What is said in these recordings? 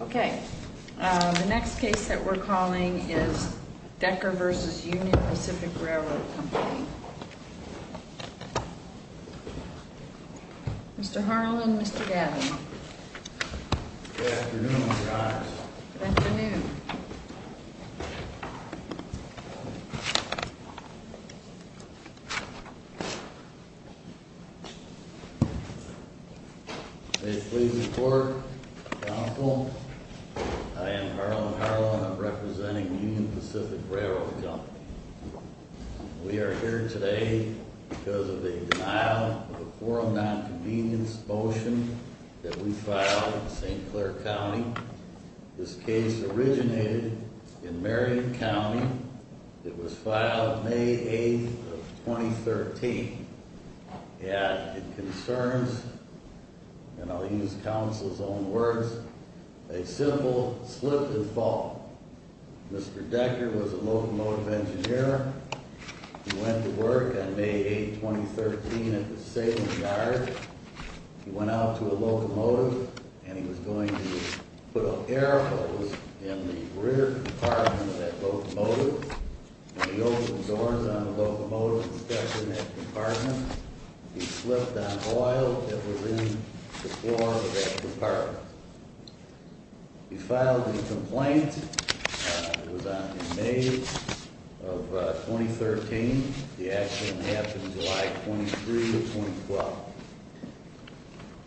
Okay, the next case that we're calling is Decker v. Union Pacific Railroad Company. Mr. Harlan, Mr. Gavin. Good afternoon, Ms. Cox. Good afternoon. May it please the Court, Counsel, I am Harlan Harlan. I'm representing Union Pacific Railroad Company. We are here today because of the denial of a quorum non-convenience motion that we filed in St. Clair County. This case originated in Marion County. It was filed May 8th of 2013. It concerns, and I'll use counsel's own words, a simple slip and fall. Mr. Decker was a locomotive engineer. He went to work on May 8th, 2013, at the Salem yard. He went out to a locomotive, and he was going to put up air hose in the rear compartment of that locomotive. When he opened doors on the locomotive and stepped in that compartment, he slipped on oil that was in the floor of that compartment. He filed the complaint. It was on May 8th of 2013. The action happened July 23rd of 2012.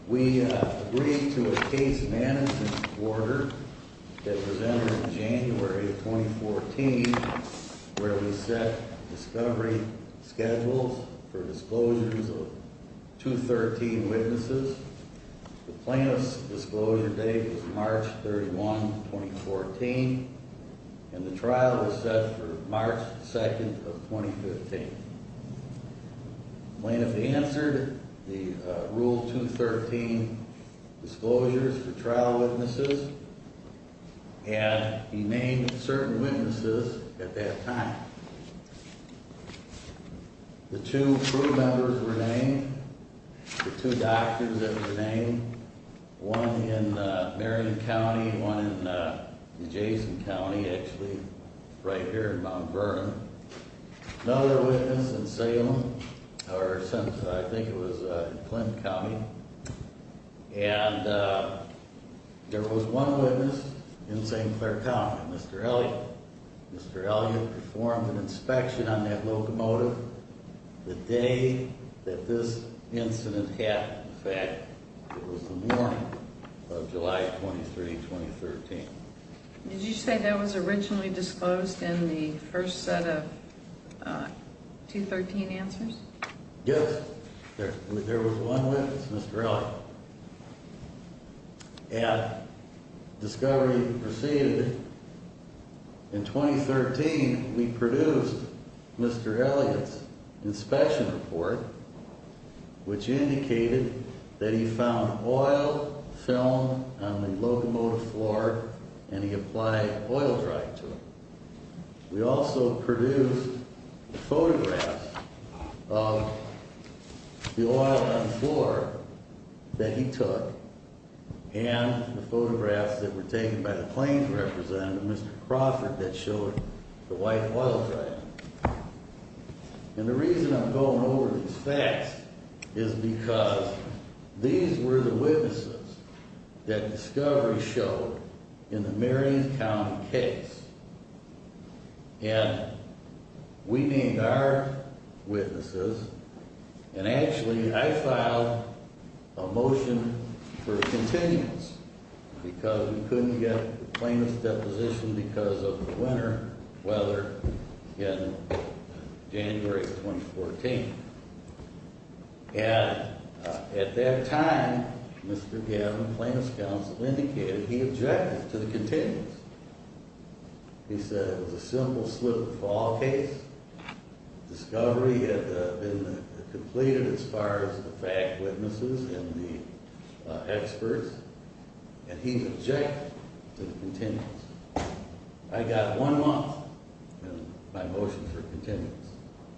We agreed to a case management order that was entered in January of 2014 where we set discovery schedules for disclosures of 213 witnesses. The plaintiff's disclosure date was March 31, 2014, and the trial was set for March 2nd of 2015. The plaintiff answered the Rule 213 disclosures for trial witnesses, and he named certain witnesses at that time. The two crew members were named. The two doctors that were named, one in Marion County, one in Jason County, actually, right here in Mount Vernon. Another witness in Salem, or since I think it was in Clinton County. And there was one witness in St. Clair County, Mr. Elliott. Mr. Elliott performed an inspection on that locomotive the day that this incident happened. In fact, it was the morning of July 23, 2013. Did you say that was originally disclosed in the first set of 213 answers? Yes. There was one witness, Mr. Elliott. And discovery proceeded. In 2013, we produced Mr. Elliott's inspection report, which indicated that he found oil film on the locomotive floor, and he applied oil dry to it. We also produced photographs of the oil on the floor that he took, and the photographs that were taken by the plaintiff's representative, Mr. Crawford, that showed the white oil dry. And the reason I'm going over these facts is because these were the witnesses that discovery showed in the Marion County case. And we named our witnesses, and actually, I filed a motion for a continuance, because we couldn't get the plaintiff's deposition because of the winter weather in January 2014. And at that time, Mr. Gavin, plaintiff's counsel, indicated he objected to the continuance. He said it was a simple slip and fall case. Discovery had been completed as far as the fact witnesses and the experts, and he objected to the continuance. I got one month, and my motion for continuance,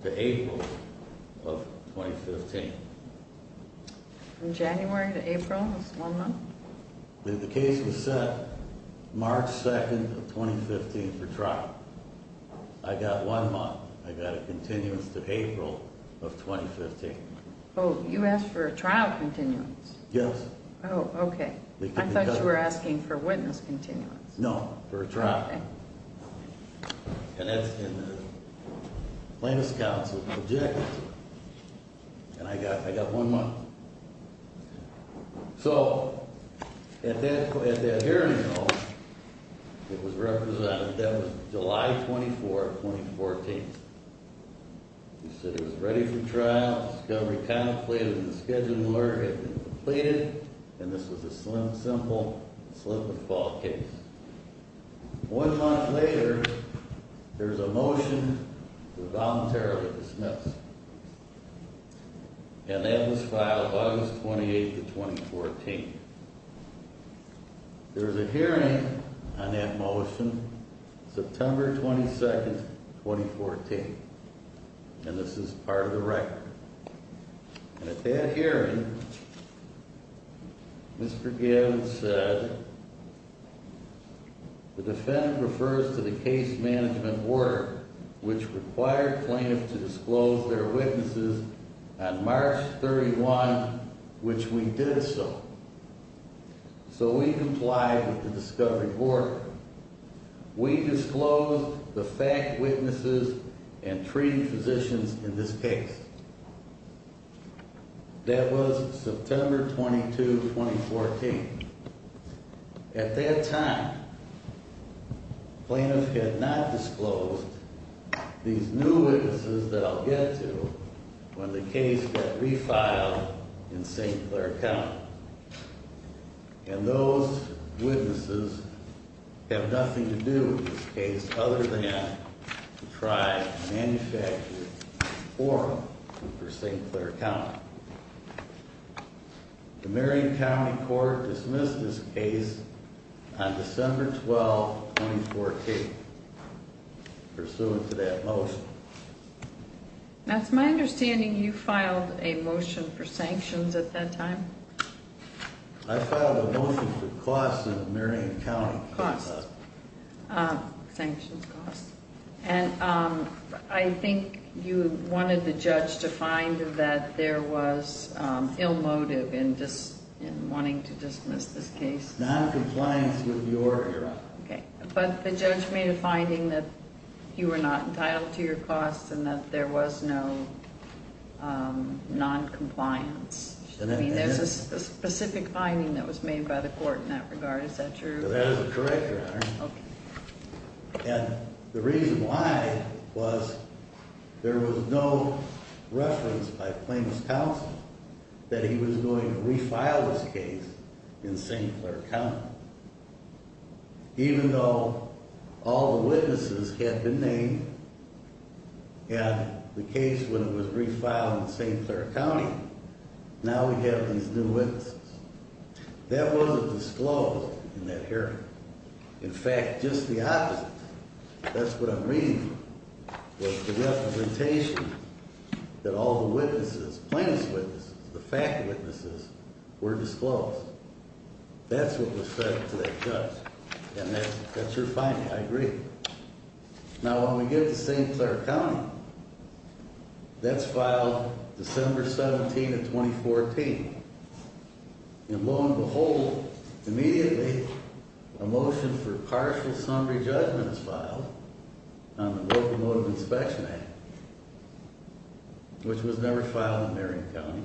to April of 2015. From January to April was one month? The case was set March 2nd of 2015 for trial. I got one month. I got a continuance to April of 2015. Oh, you asked for a trial continuance? Yes. Oh, okay. I thought you were asking for witness continuance. No, for a trial. And that's when the plaintiff's counsel objected to it. And I got one month. So, at that hearing, though, it was represented that it was July 24th, 2014. He said it was ready for trial. Discovery contemplated and the scheduling order had been completed, and this was a simple slip and fall case. One month later, there was a motion to voluntarily dismiss. And that was filed August 28th of 2014. There was a hearing on that motion, September 22nd, 2014. And this is part of the record. And at that hearing, Mr. Gavin said, The defendant refers to the case management order, which required plaintiffs to disclose their witnesses on March 31, which we did so. So we complied with the discovery order. We disclosed the fact witnesses and treating physicians in this case. That was September 22, 2014. At that time, the plaintiff had not disclosed these new witnesses that I'll get to when the case got refiled in St. Clair County. And those witnesses have nothing to do in this case other than to try and manufacture a form for St. Clair County. The Marion County Court dismissed this case on December 12, 2014, pursuant to that motion. That's my understanding you filed a motion for sanctions at that time? I filed a motion for costs in the Marion County case. Costs. Sanctions costs. And I think you wanted the judge to find that there was ill motive in wanting to dismiss this case. Noncompliance with your offer. But the judge made a finding that you were not entitled to your costs and that there was no noncompliance. I mean, there's a specific finding that was made by the court in that regard. Is that true? That is correct, Your Honor. And the reason why was there was no reference by plaintiff's counsel that he was going to refile this case in St. Clair County. Even though all the witnesses had been named and the case was refiled in St. Clair County, now we have these new witnesses. That wasn't disclosed in that hearing. In fact, just the opposite. That's what I'm reading was the representation that all the witnesses, plaintiff's witnesses, the fact witnesses were disclosed. That's what was said to that judge. And that's your finding. I agree. Now, when we get to St. Clair County, that's filed December 17 of 2014. And lo and behold, immediately a motion for partial summary judgment is filed on the Locomotive Inspection Act, which was never filed in Marion County.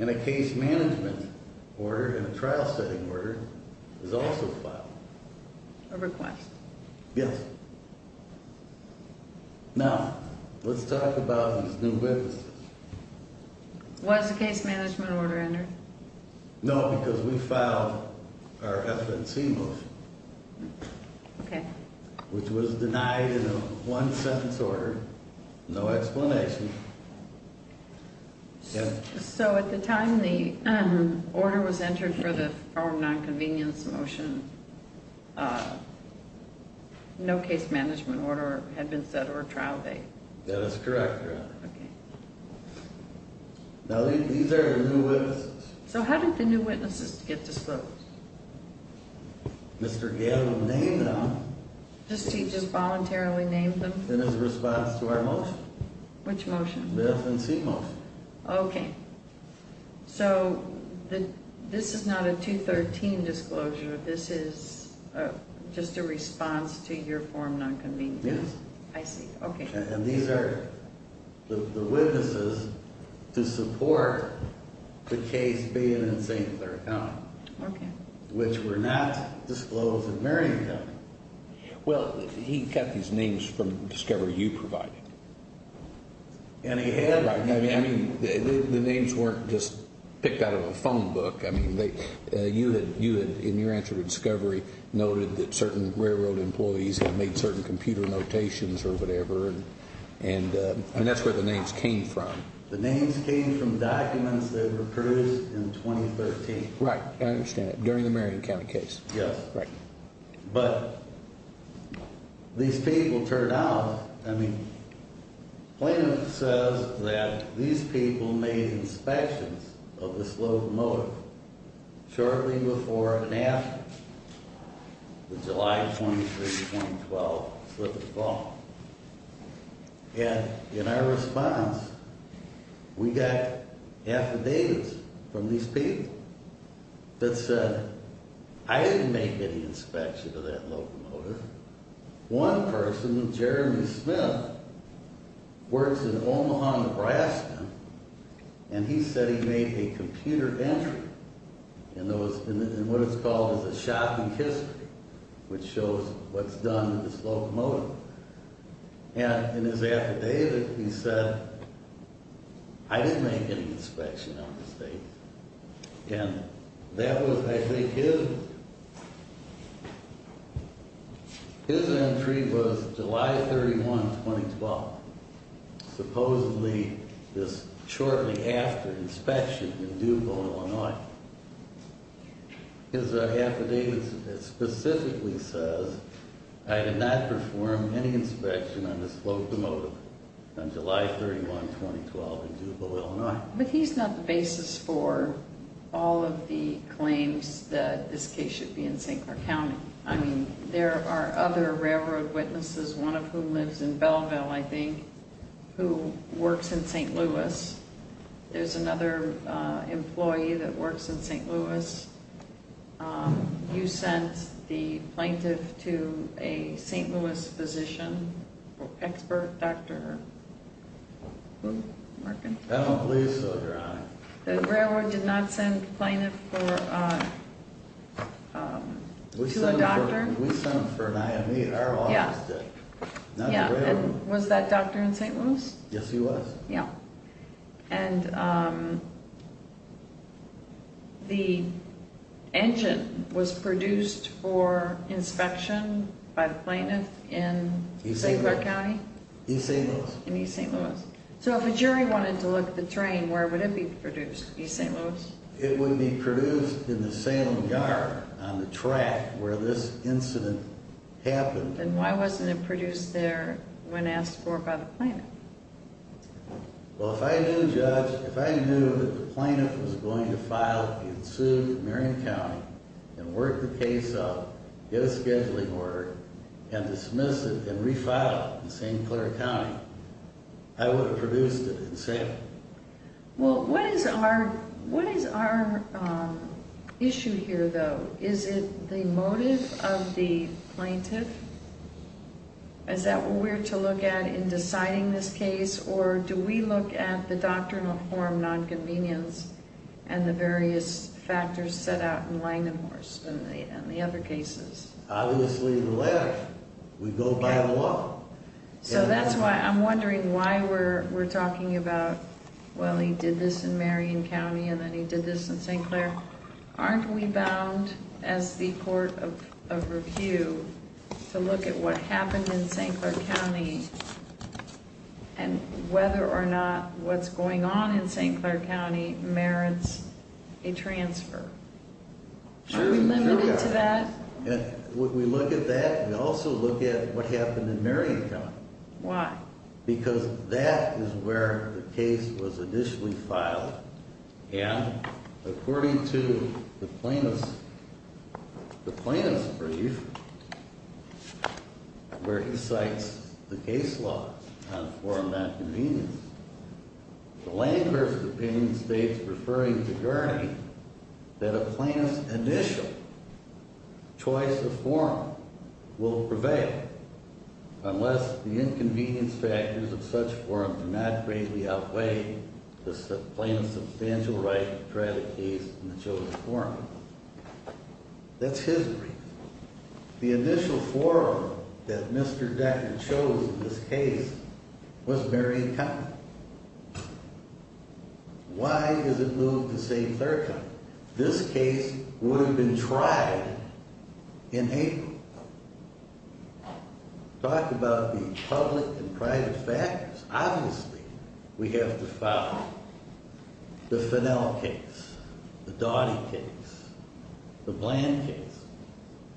And a case management order and a trial setting order is also filed. A request. Yes. Now, let's talk about these new witnesses. Was a case management order entered? No, because we filed our FNC motion. Okay. Which was denied in a one-sentence order, no explanation. So, at the time the order was entered for the firm non-convenience motion, no case management order had been set or a trial date. That is correct. Okay. Now, these are the new witnesses. So, how did the new witnesses get disclosed? Mr. Gale named them. He just voluntarily named them? In his response to our motion. Which motion? The FNC motion. Okay. So, this is not a 213 disclosure, this is just a response to your firm non-convenience? Yes. I see. Okay. And these are the witnesses to support the case being in St. Clair County. Okay. Which were not disclosed in Marion County. Well, he got these names from Discovery you provided. And he had? I mean, the names weren't just picked out of a phone book. I mean, you had, in your answer to Discovery, noted that certain railroad employees had made certain computer notations or whatever, and that's where the names came from. The names came from documents that were produced in 2013. Right, I understand that, during the Marion County case. Yes. Right. But, these people turned out, I mean, Plano says that these people made inspections of the Slope Motor shortly before and after the July 23, 2012 slip of the tongue. And, in our response, we got affidavits from these people that said, I didn't make any inspection of that locomotive. One person, Jeremy Smith, works in Omaha, Nebraska, and he said he made a computer entry in what is called a shopping history, which shows what's done to this locomotive. And, in his affidavit, he said, I didn't make any inspection on this thing. And, that was, I think, his entry was July 31, 2012. Supposedly, this shortly after inspection in D'Youville, Illinois. His affidavit specifically says, I did not perform any inspection on this locomotive on July 31, 2012 in D'Youville, Illinois. But, he's not the basis for all of the claims that this case should be in St. Clair County. I mean, there are other railroad witnesses, one of whom lives in Belleville, I think, who works in St. Louis. There's another employee that works in St. Louis. You sent the plaintiff to a St. Louis physician, expert doctor. I don't believe so, Your Honor. The railroad did not send the plaintiff to a doctor? We sent him for an IME, our office did, not the railroad. Was that doctor in St. Louis? Yes, he was. And, the engine was produced for inspection by the plaintiff in St. Clair County? In East St. Louis. In East St. Louis. So, if a jury wanted to look at the train, where would it be produced, East St. Louis? It would be produced in the Salem yard on the track where this incident happened. Then, why wasn't it produced there when asked for by the plaintiff? Well, if I knew, Judge, if I knew that the plaintiff was going to file a suit in Marion County and work the case out, get a scheduling order, and dismiss it and refile it in St. Clair County, I would have produced it in Salem. Well, what is our issue here, though? Is it the motive of the plaintiff? Is that what we're to look at in deciding this case, or do we look at the doctrinal form, nonconvenience, and the various factors set out in Langenhorst and the other cases? Obviously, the latter. We go by the law. So, that's why I'm wondering why we're talking about, well, he did this in Marion County and then he did this in St. Clair. Aren't we bound, as the court of review, to look at what happened in St. Clair County and whether or not what's going on in St. Clair County merits a transfer? Are we limited to that? When we look at that, we also look at what happened in Marion County. Why? Because that is where the case was initially filed, and according to the plaintiff's brief where he cites the case law on forum nonconvenience, Langenhorst's opinion states, referring to Gurney, that a plaintiff's initial choice of forum will prevail unless the inconvenience factors of such forum do not greatly outweigh the plaintiff's substantial right to try the case in the chosen forum. That's his brief. The initial forum that Mr. Decker chose in this case was Marion County. Why is it moved to St. Clair County? This case would have been tried in April. Talk about the public and private factors. Obviously, we have to follow the Fennel case, the Doughty case, the Bland case,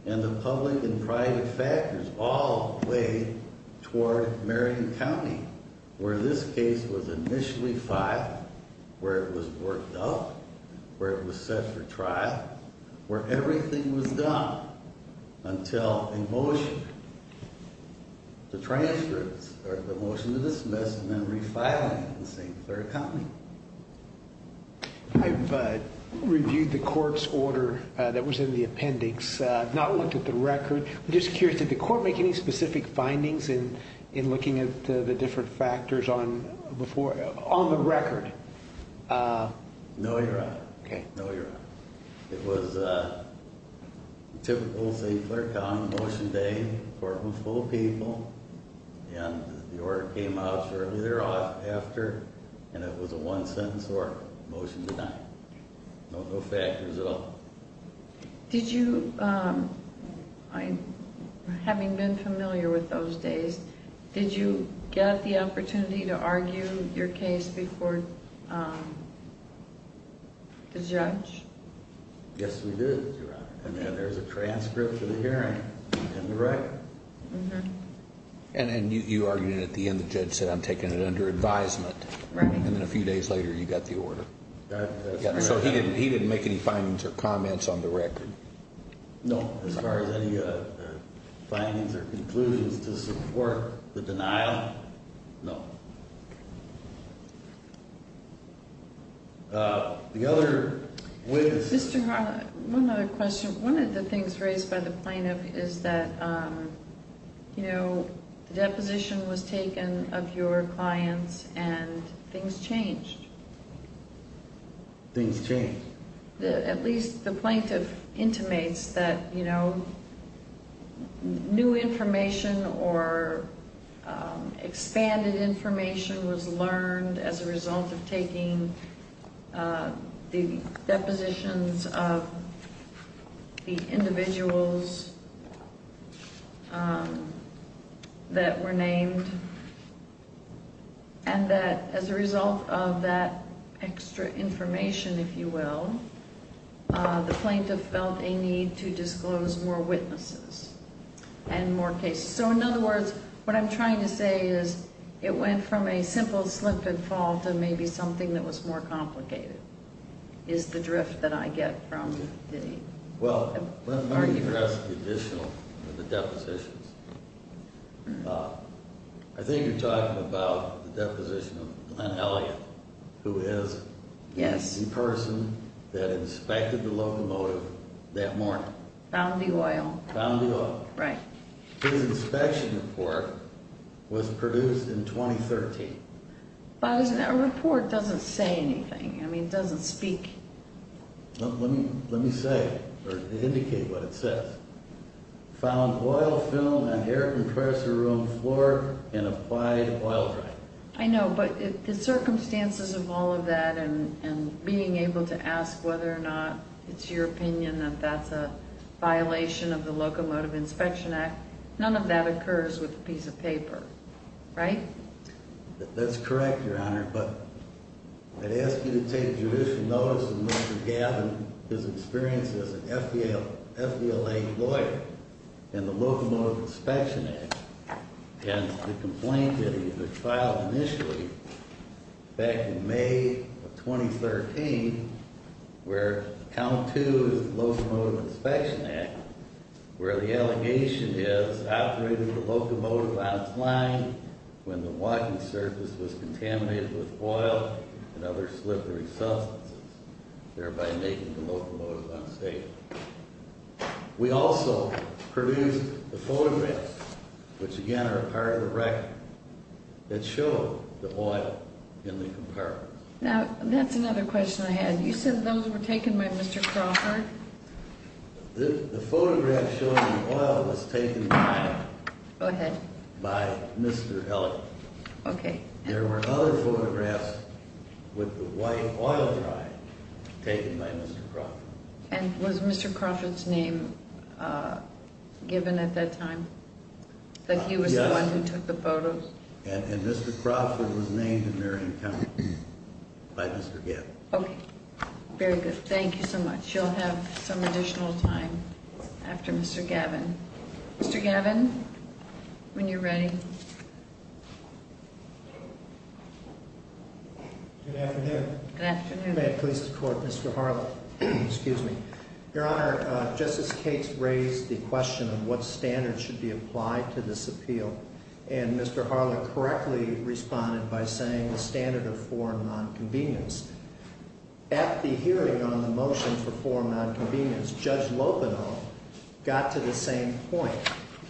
and the public and private factors all play toward Marion County, where this case was initially filed, where it was worked up, where it was set for trial, where everything was done until a motion, the transcripts or the motion to dismiss and then refiling in St. Clair County. I've reviewed the court's order that was in the appendix, not looked at the record. I'm just curious, did the court make any specific findings in looking at the different factors on the record? No, Your Honor. Okay. It was typical St. Clair County motion day. The court was full of people, and the order came out shortly thereafter, and it was a one-sentence order, motion denied. No factors at all. Did you, having been familiar with those days, did you get the opportunity to argue your case before the judge? Yes, we did, Your Honor. And there's a transcript of the hearing in the record. And you argued it at the end. The judge said, I'm taking it under advisement. Right. And then a few days later, you got the order. So he didn't make any findings or comments on the record? No. As far as any findings or conclusions to support the denial? No. The other witness. Mr. Harlan, one other question. One of the things raised by the plaintiff is that, you know, the deposition was taken of your clients, and things changed. Things changed. At least the plaintiff intimates that, you know, new information or expanded information was learned as a result of taking the depositions of the individuals that were named, and that as a result of that extra information, if you will, the plaintiff felt a need to disclose more witnesses and more cases. So, in other words, what I'm trying to say is it went from a simple slip and fall to maybe something that was more complicated is the drift that I get from the arguments. Well, let me address the additional, the depositions. I think you're talking about the deposition of Glenn Elliott, who is the person that inspected the locomotive that morning. Found the oil. Found the oil. Right. His inspection report was produced in 2013. But a report doesn't say anything. I mean, it doesn't speak. Let me say or indicate what it says. Found oil, film, and air compressor room floor and applied oil. Right. I know, but the circumstances of all of that and being able to ask whether or not it's your opinion that that's a violation of the locomotive inspection act. None of that occurs with a piece of paper, right? That's correct. Your honor. But I'd ask you to take judicial notice of Mr. Gavin, his experience as an FDL, FDLA lawyer and the locomotive inspection act and the complaint that he was filed initially back in May of 2013, where count two is locomotive inspection act, where the allegation is operating the locomotive out flying when the surface was contaminated with oil and other slippery substances, thereby making the locomotive unsafe. We also produced the photographs, which again are a part of the record that show the oil in the compartment. Now that's another question I had. You said those were taken by Mr. Crawford. The photograph showing the oil was taken by. Go ahead. By Mr. Okay. There were other photographs with the white oil. Right. Taken by Mr. And was Mr. Crawford's name given at that time that he was the one who took the photos. And Mr. Crawford was named in their income by Mr. Okay. Very good. Thank you so much. You'll have some additional time after Mr. Gavin, Mr. Gavin. When you're ready. Good afternoon. Good afternoon. Please. Mr. Excuse me. Your honor. Just as Kate's raised the question of what standards should be applied to this appeal. And Mr. Harlan correctly responded by saying the standard of foreign non convenience. At the hearing on the motion for foreign non convenience judge Lopino. Got to the same point.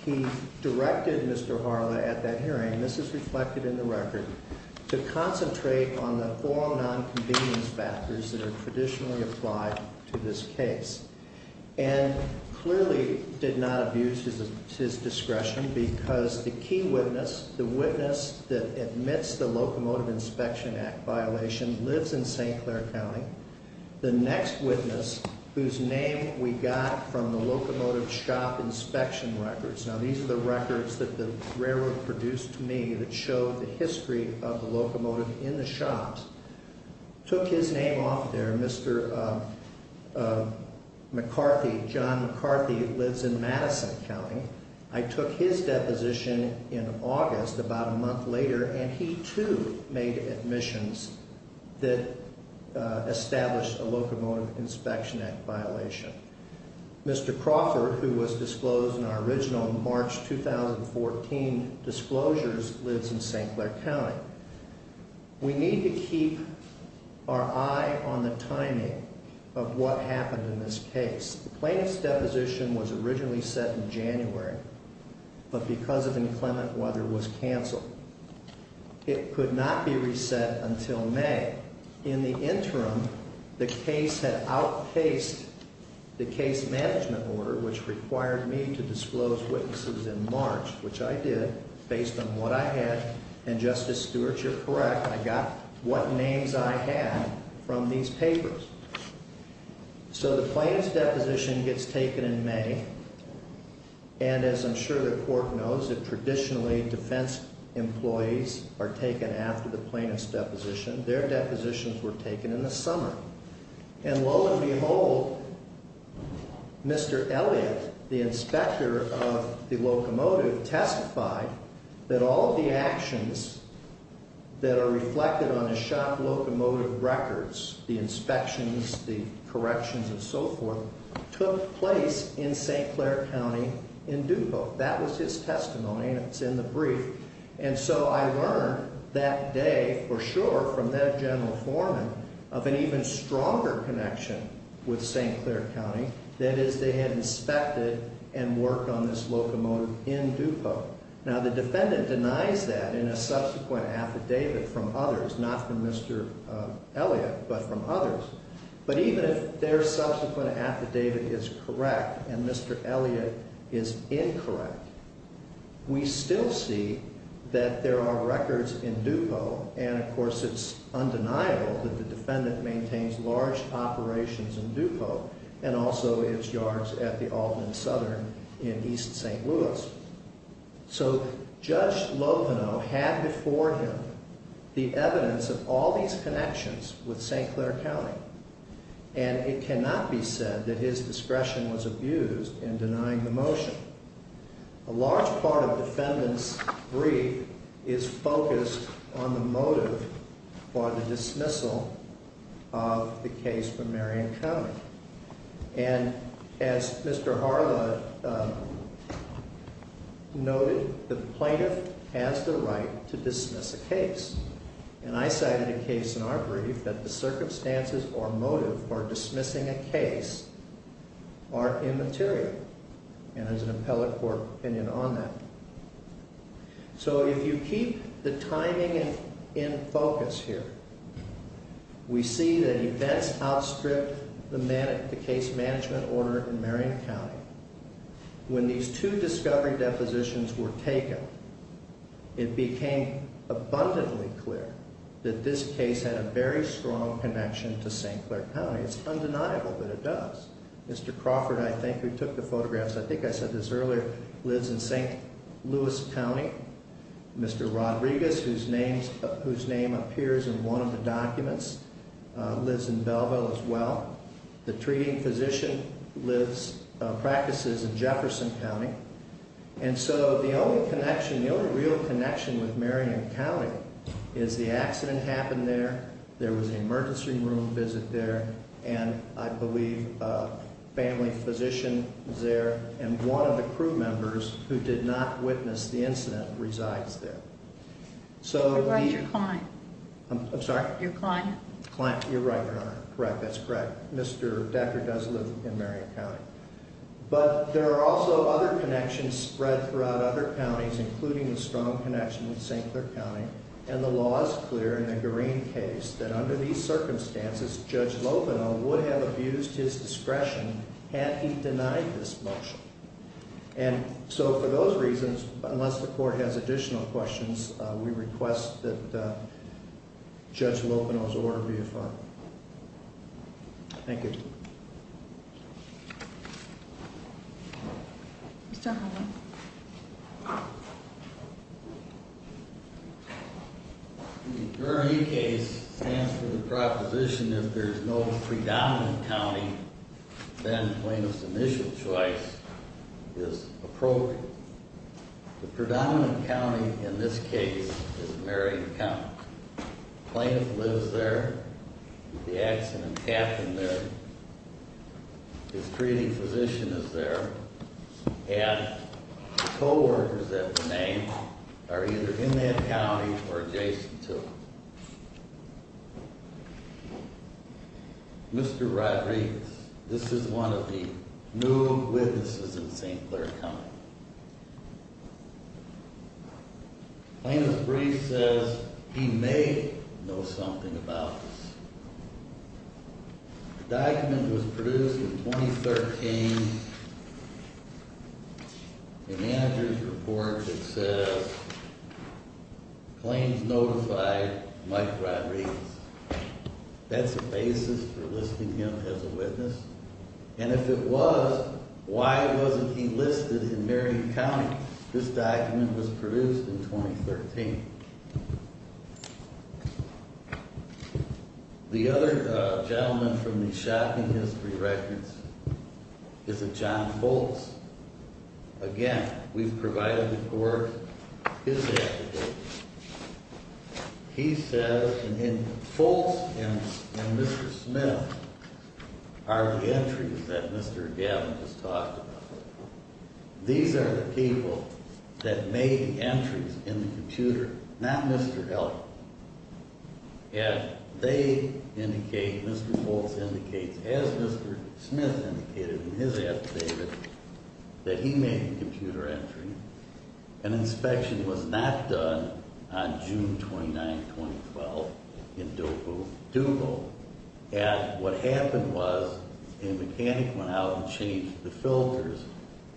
He directed Mr. Harlan at that hearing. This is reflected in the record. To concentrate on the foreign non convenience factors that are traditionally applied to this case. And clearly did not abuse his discretion because the key witness, the witness that admits the locomotive inspection act violation lives in St. Clair County. The next witness whose name we got from the locomotive shop inspection records. Now, these are the records that the railroad produced to me that showed the history of the locomotive in the shops. Took his name off there. Mr. McCarthy. John McCarthy lives in Madison County. I took his deposition in August about a month later, and he too made admissions that established a locomotive inspection act violation. Mr. Crawford, who was disclosed in our original March 2014 disclosures, lives in St. Clair County. We need to keep our eye on the timing of what happened in this case. Plaintiff's deposition was originally set in January, but because of inclement weather was canceled. It could not be reset until May. In the interim, the case had outpaced the case management order, which required me to disclose witnesses in March, which I did based on what I had. And Justice Stewart, you're correct. I got what names I had from these papers. So the plaintiff's deposition gets taken in May. And as I'm sure the court knows that traditionally defense employees are depositions were taken in the summer. And lo and behold, Mr. Elliott, the inspector of the locomotive, testified that all of the actions that are reflected on the shock locomotive records, the inspections, the corrections and so forth, took place in St. Clair County in Dupont. That was his testimony, and it's in the brief. And so I learned that day, for sure, from that general foreman, of an even stronger connection with St. Clair County. That is, they had inspected and worked on this locomotive in Dupont. Now, the defendant denies that in a subsequent affidavit from others, not from Mr. Elliott, but from others. But even if their subsequent affidavit is correct and Mr. Elliott is incorrect, we still see that there are records in Dupont. And, of course, it's undeniable that the defendant maintains large operations in Dupont and also its yards at the Alton & Southern in East St. Louis. So Judge Loveno had before him the evidence of all these connections with St. Clair County. And it cannot be said that his discretion was abused in denying the motion. A large part of the defendant's brief is focused on the motive for the dismissal of the case for Marion County. And as Mr. Harla noted, the plaintiff has the right to dismiss a case. And I cited a case in our brief that the circumstances or motive for dismissing a case are immaterial. And there's an appellate court opinion on that. So if you keep the timing in focus here, we see that events outstripped the case management order in Marion County. When these two discovery depositions were taken, it became abundantly clear that this case had a very strong connection to St. Clair County. It's undeniable that it does. Mr. Crawford, I think, who took the photographs, I think I said this earlier, lives in St. Louis County. Mr. Rodriguez, whose name appears in one of the documents, lives in Belleville as well. The treating physician practices in Jefferson County. And so the only connection, the only real connection with Marion County is the accident happened there. There was an emergency room visit there. And I believe a family physician was there. And one of the crew members who did not witness the incident resides there. You're right. You're Klein. I'm sorry? You're Klein. Klein. You're right, Your Honor. Correct. That's correct. Mr. Decker does live in Marion County. But there are also other connections spread throughout other counties, including the strong connection with St. Clair County. And the law is clear in the Green case that under these circumstances, Judge Loveno would have abused his discretion had he denied this motion. And so for those reasons, unless the court has additional questions, we request that Judge Loveno's order be affirmed. Thank you. Mr. Holland. The GRE case stands for the proposition that if there's no predominant county, then plaintiff's initial choice is appropriate. The predominant county in this case is Marion County. The plaintiff lives there. The accident happened there. His treating physician is there. And co-workers at the name are either in that county or adjacent to it. Mr. Rodriguez, this is one of the new witnesses in St. Clair County. Plaintiff's brief says he may know something about this. The document was produced in 2013. The manager's report, it says, claims notified Mike Rodriguez. That's the basis for listing him as a witness. And if it was, why wasn't he listed in Marion County? This document was produced in 2013. The other gentleman from the shocking history records is a John Foltz. Again, we've provided the court his affidavit. He says, and Foltz and Mr. Smith are the entries that Mr. Gavin has talked about. These are the people that made the entries in the computer, not Mr. Feltz. And they indicate, Mr. Feltz indicates, as Mr. Smith indicated in his affidavit, that he made the computer entry. An inspection was not done on June 29, 2012, in Dooku, Dooku. And what happened was a mechanic went out and changed the filters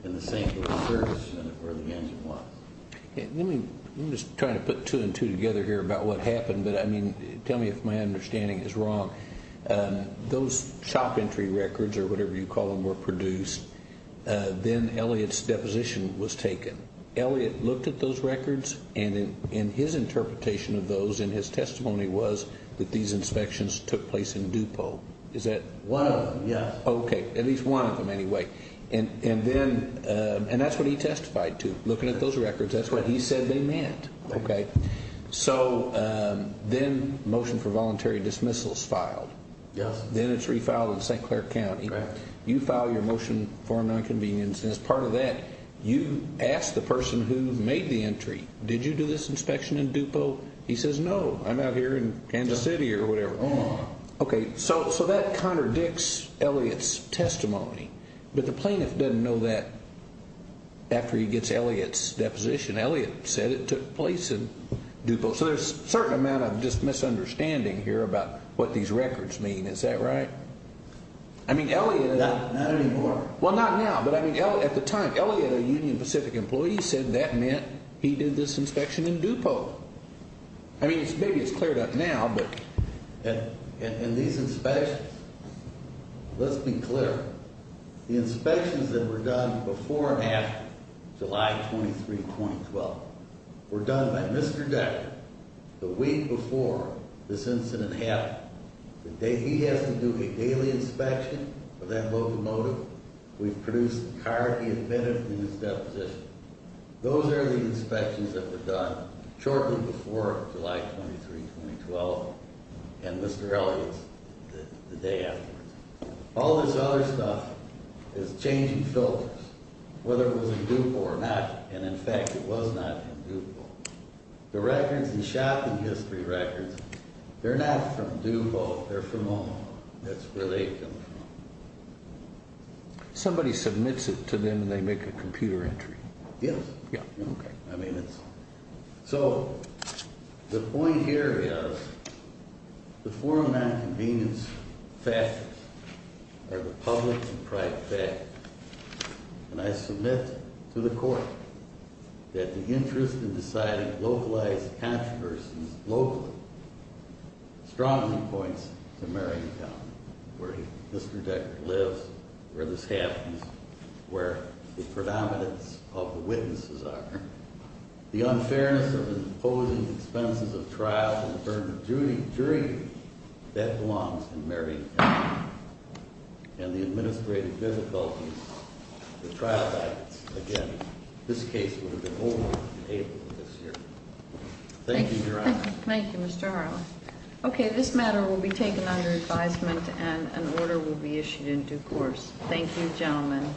in the St. Clair service unit where the engine was. I'm just trying to put two and two together here about what happened. But, I mean, tell me if my understanding is wrong. Those shop entry records, or whatever you call them, were produced. Then Elliot's deposition was taken. Elliot looked at those records, and his interpretation of those in his testimony was that these inspections took place in Dupont. Is that one of them? Yes. Okay. At least one of them anyway. And that's what he testified to, looking at those records. That's what he said they meant. Okay. So then motion for voluntary dismissal is filed. Yes. Then it's refiled in St. Clair County. Correct. You file your motion for an inconvenience, and as part of that, you ask the person who made the entry, did you do this inspection in Dupont? He says, no, I'm out here in Kansas City or whatever. Okay. So that contradicts Elliot's testimony. But the plaintiff doesn't know that after he gets Elliot's deposition. Elliot said it took place in Dupont. So there's a certain amount of just misunderstanding here about what these records mean. Is that right? Not anymore. Well, not now. But, I mean, at the time, Elliot, a Union Pacific employee, said that meant he did this inspection in Dupont. I mean, maybe it's cleared up now. And these inspections, let's be clear, the inspections that were done before and after July 23, 2012, were done by Mr. Decker the week before this incident happened. He has to do a daily inspection of that locomotive. We've produced the card he admitted in his deposition. Those are the inspections that were done shortly before July 23, 2012, and Mr. Elliot's the day afterwards. All this other stuff is changing filters, whether it was in Dupont or not. And, in fact, it was not in Dupont. The records and shop and history records, they're not from Dupont. They're from Omaha. That's where they come from. Somebody submits it to them, and they make a computer entry. Yes. Yeah. Okay. So, the point here is the four nonconvenience factors are the public and private factors. And I submit to the court that the interest in deciding localized controversies locally strongly points to Marion County, where Mr. Decker lives, where this happens, where the predominance of the witnesses are. The unfairness of imposing expenses of trial in the term of jury that belongs in Marion County. And the administrative difficulties with trial guidance. Again, this case would have been over in April of this year. Thank you, Your Honor. Thank you, Mr. Harlan. Okay, this matter will be taken under advisement, and an order will be issued in due course. Thank you, gentlemen.